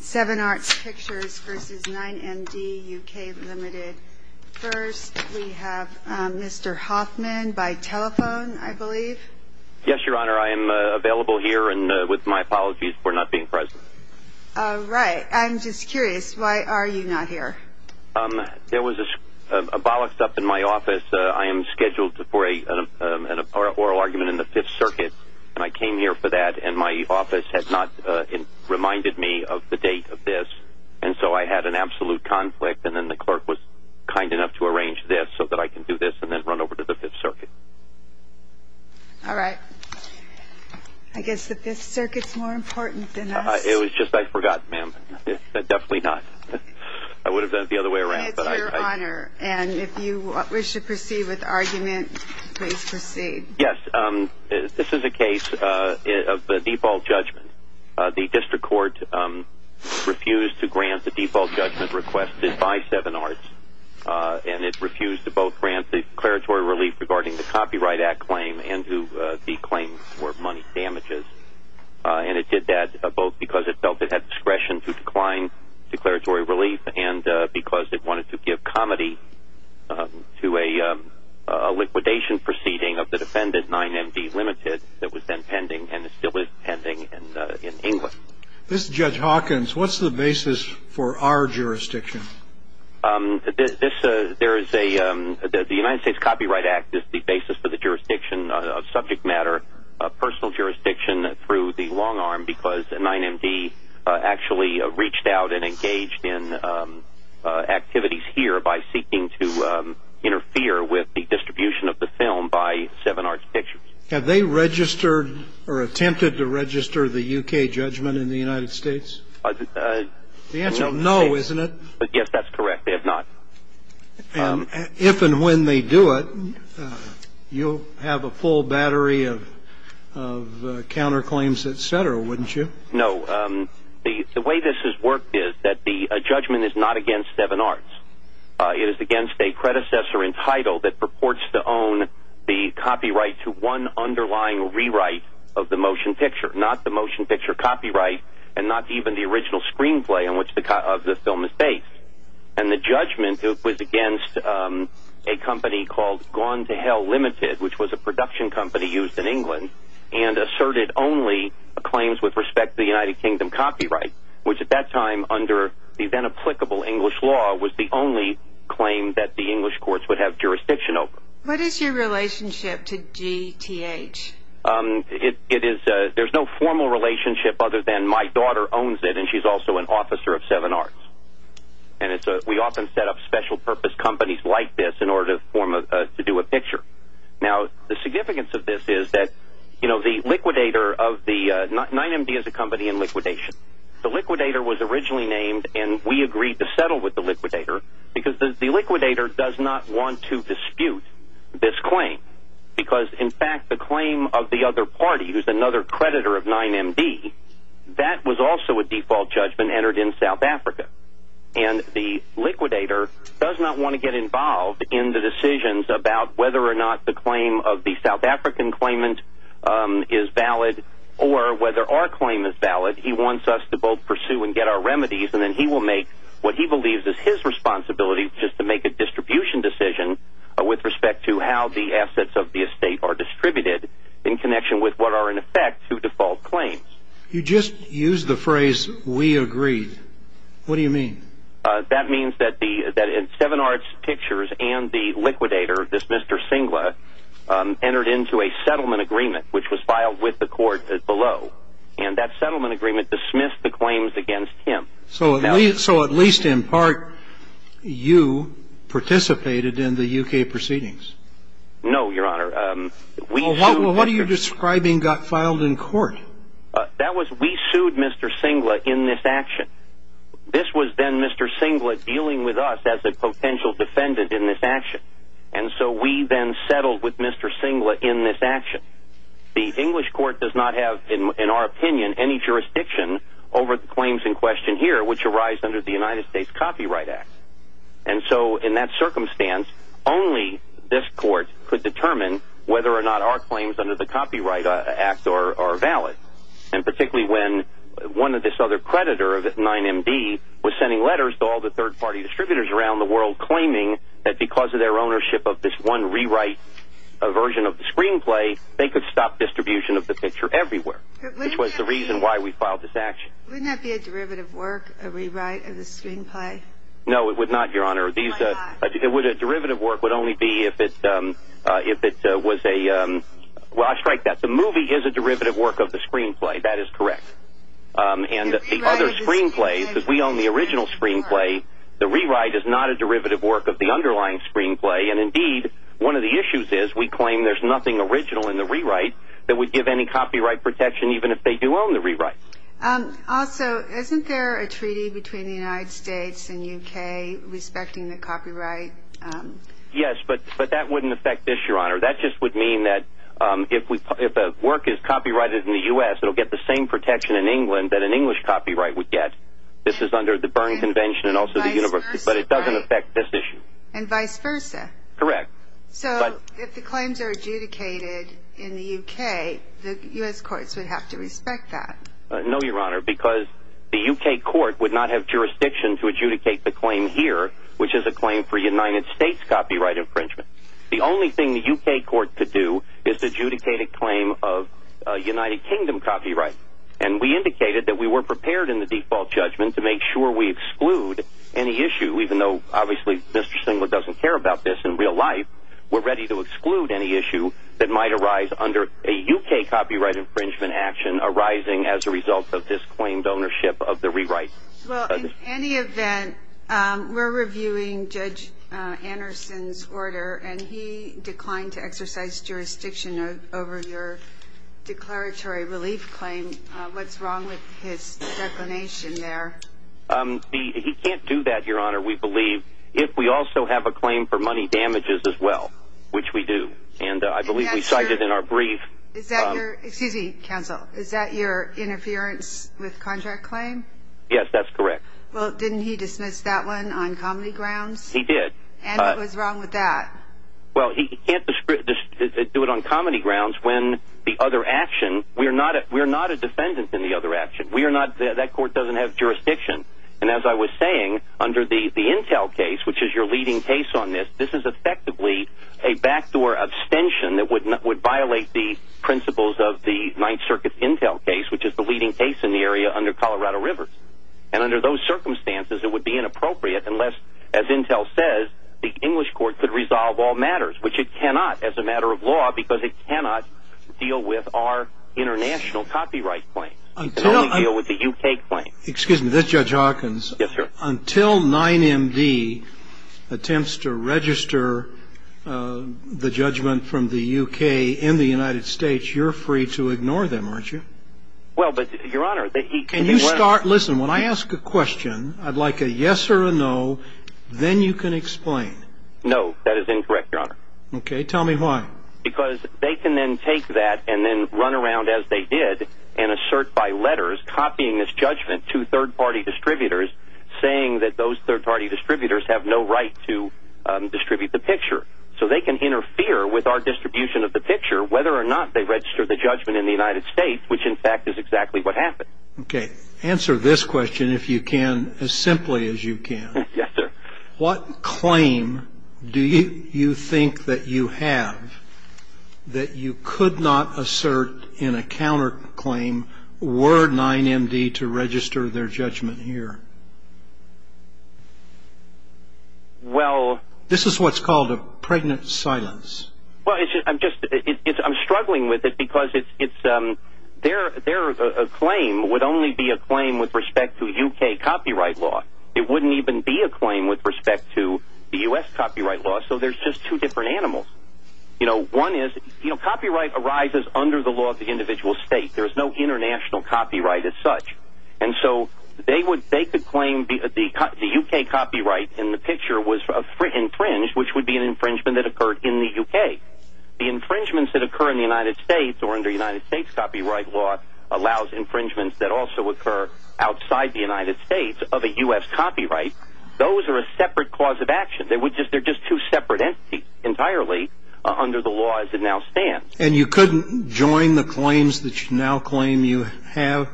7 Arts Pictures v. 9MD UK Limited First, we have Mr. Hoffman by telephone, I believe. Yes, Your Honor. I am available here and with my apologies for not being present. All right. I'm just curious. Why are you not here? There was a bollocks up in my office. I am scheduled for an oral argument in the Fifth Circuit, and I came here for that. And my office had not reminded me of the date of this. And so I had an absolute conflict, and then the clerk was kind enough to arrange this so that I can do this and then run over to the Fifth Circuit. All right. I guess the Fifth Circuit is more important than us. It was just I forgot, ma'am. Definitely not. I would have done it the other way around. And it's your honor. And if you wish to proceed with the argument, please proceed. Yes, this is a case of the default judgment. The district court refused to grant the default judgment requested by 7 Arts, and it refused to both grant the declaratory relief regarding the Copyright Act claim and the claim for money damages. And it did that both because it felt it had discretion to decline declaratory relief and because it wanted to give comedy to a liquidation proceeding of the defendant, 9MD Limited, that was then pending and still is pending in England. This is Judge Hawkins. What's the basis for our jurisdiction? The United States Copyright Act is the basis for the jurisdiction of subject matter, personal jurisdiction through the long arm because 9MD actually reached out and engaged in activities here by seeking to interfere with the distribution of the film by 7 Arts Pictures. Have they registered or attempted to register the U.K. judgment in the United States? The answer is no, isn't it? Yes, that's correct. They have not. If and when they do it, you'll have a full battery of counterclaims, et cetera, wouldn't you? No. The way this has worked is that the judgment is not against 7 Arts. It is against a predecessor in title that purports to own the copyright to one underlying rewrite of the motion picture, not the motion picture copyright and not even the original screenplay on which the film is based. And the judgment was against a company called Gone to Hell Limited, which was a production company used in England and asserted only claims with respect to the United Kingdom copyright, which at that time under the then applicable English law was the only claim that the English courts would have jurisdiction over. What is your relationship to GTH? There's no formal relationship other than my daughter owns it and she's also an officer of 7 Arts. And we often set up special purpose companies like this in order to do a picture. Now, the significance of this is that the liquidator of the – 9MD is a company in liquidation. The liquidator was originally named and we agreed to settle with the liquidator because the liquidator does not want to dispute this claim. Because, in fact, the claim of the other party, who's another creditor of 9MD, that was also a default judgment entered in South Africa. And the liquidator does not want to get involved in the decisions about whether or not the claim of the South African claimant is valid or whether our claim is valid. He wants us to both pursue and get our remedies and then he will make what he believes is his responsibility just to make a distribution decision with respect to how the assets of the estate are distributed in connection with what are, in effect, two default claims. You just used the phrase, we agreed. What do you mean? That means that 7 Arts Pictures and the liquidator, this Mr. Singla, entered into a settlement agreement which was filed with the court below. And that settlement agreement dismissed the claims against him. So, at least in part, you participated in the UK proceedings? No, Your Honor. Well, what are you describing got filed in court? That was, we sued Mr. Singla in this action. This was then Mr. Singla dealing with us as a potential defendant in this action. And so we then settled with Mr. Singla in this action. The English court does not have, in our opinion, any jurisdiction over the claims in question here which arise under the United States Copyright Act. And so, in that circumstance, only this court could determine whether or not our claims under the Copyright Act are valid. And particularly when one of this other creditor of 9MD was sending letters to all the third-party distributors around the world claiming that because of their ownership of this one rewrite version of the screenplay, they could stop distribution of the picture everywhere, which was the reason why we filed this action. Wouldn't that be a derivative work, a rewrite of the screenplay? No, it would not, Your Honor. A derivative work would only be if it was a, well, I strike that the movie is a derivative work of the screenplay. That is correct. And the other screenplay, because we own the original screenplay, the rewrite is not a derivative work of the underlying screenplay. And, indeed, one of the issues is we claim there's nothing original in the rewrite that would give any copyright protection even if they do own the rewrite. Also, isn't there a treaty between the United States and UK respecting the copyright? Yes, but that wouldn't affect this, Your Honor. That just would mean that if a work is copyrighted in the U.S., it will get the same protection in England that an English copyright would get. This is under the Berne Convention and also the University, but it doesn't affect this issue. And vice versa. Correct. So if the claims are adjudicated in the UK, the U.S. courts would have to respect that. No, Your Honor, because the UK court would not have jurisdiction to adjudicate the claim here, which is a claim for United States copyright infringement. The only thing the UK court could do is adjudicate a claim of United Kingdom copyright. And we indicated that we were prepared in the default judgment to make sure we exclude any issue, even though, obviously, Mr. Stengler doesn't care about this in real life. We're ready to exclude any issue that might arise under a UK copyright infringement action arising as a result of this claimed ownership of the rewrite. Well, in any event, we're reviewing Judge Anderson's order, and he declined to exercise jurisdiction over your declaratory relief claim. What's wrong with his declination there? He can't do that, Your Honor, we believe, if we also have a claim for money damages as well, which we do. And I believe we cited in our brief. Excuse me, counsel. Is that your interference with contract claim? Yes, that's correct. Well, didn't he dismiss that one on comedy grounds? He did. And what was wrong with that? Well, he can't do it on comedy grounds when the other action, we're not a defendant in the other action. We are not, that court doesn't have jurisdiction. And as I was saying, under the Intel case, which is your leading case on this, this is effectively a backdoor abstention that would violate the principles of the Ninth Circuit Intel case, which is the leading case in the area under Colorado River. And under those circumstances, it would be inappropriate unless, as Intel says, the English court could resolve all matters, which it cannot as a matter of law, because it cannot deal with our international copyright claims. It can only deal with the U.K. claims. Excuse me, this is Judge Hawkins. Yes, sir. Until 9MD attempts to register the judgment from the U.K. in the United States, you're free to ignore them, aren't you? Well, but, Your Honor, he can be- Can you start, listen, when I ask a question, I'd like a yes or a no, then you can explain. No, that is incorrect, Your Honor. Okay, tell me why. Because they can then take that and then run around, as they did, and assert by letters, copying this judgment to third-party distributors, saying that those third-party distributors have no right to distribute the picture. So they can interfere with our distribution of the picture, whether or not they register the judgment in the United States, which, in fact, is exactly what happened. Okay, answer this question, if you can, as simply as you can. Yes, sir. What claim do you think that you have that you could not assert in a counterclaim were 9MD to register their judgment here? Well- This is what's called a pregnant silence. Well, I'm struggling with it because their claim would only be a claim with respect to U.K. copyright law. It wouldn't even be a claim with respect to the U.S. copyright law. So there's just two different animals. You know, one is copyright arises under the law of the individual state. There's no international copyright as such. And so they could claim the U.K. copyright in the picture was infringed, which would be an infringement that occurred in the U.K. The infringements that occur in the United States or under United States copyright law allows infringements that also occur outside the United States of a U.S. copyright. Those are a separate cause of action. They're just two separate entities entirely under the law as it now stands. And you couldn't join the claims that you now claim you have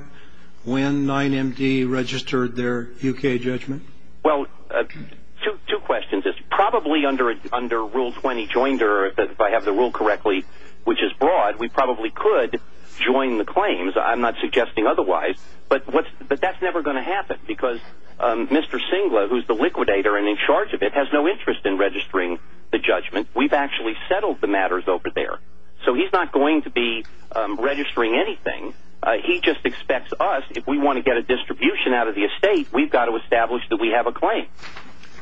when 9MD registered their U.K. judgment? Well, two questions. It's probably under Rule 20 Joinder, if I have the rule correctly, which is broad, that we probably could join the claims. I'm not suggesting otherwise. But that's never going to happen because Mr. Singler, who's the liquidator and in charge of it, has no interest in registering the judgment. We've actually settled the matters over there. So he's not going to be registering anything. He just expects us, if we want to get a distribution out of the estate, we've got to establish that we have a claim.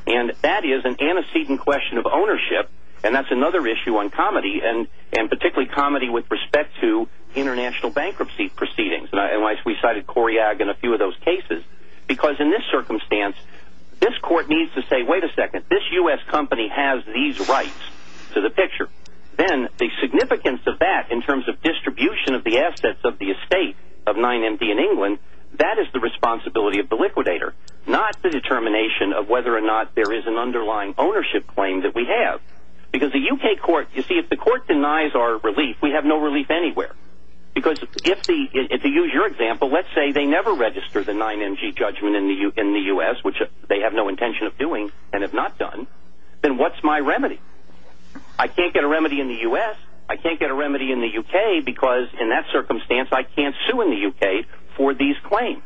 And that is an antecedent question of ownership, and that's another issue on comedy, and particularly comedy with respect to international bankruptcy proceedings. And we cited Coriag in a few of those cases. Because in this circumstance, this court needs to say, wait a second, this U.S. company has these rights to the picture. Then the significance of that in terms of distribution of the assets of the estate of 9MD in England, that is the responsibility of the liquidator, not the determination of whether or not there is an underlying ownership claim that we have. Because the U.K. court, you see, if the court denies our relief, we have no relief anywhere. Because if they use your example, let's say they never register the 9MD judgment in the U.S., which they have no intention of doing and have not done, then what's my remedy? I can't get a remedy in the U.S., I can't get a remedy in the U.K., because in that circumstance I can't sue in the U.K. for these claims.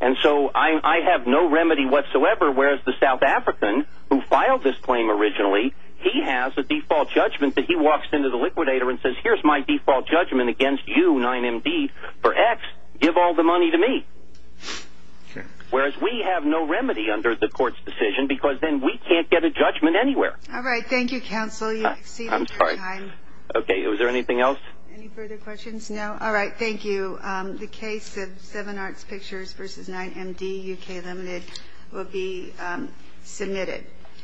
And so I have no remedy whatsoever, whereas the South African, who filed this claim originally, he has a default judgment that he walks into the liquidator and says, here's my default judgment against you, 9MD, for X, give all the money to me. Whereas we have no remedy under the court's decision because then we can't get a judgment anywhere. All right, thank you, counsel. You've exceeded your time. I'm sorry. Okay, was there anything else? Any further questions? No? All right, thank you. The case of Seven Arts Pictures v. 9MD, U.K. Limited, will be submitted.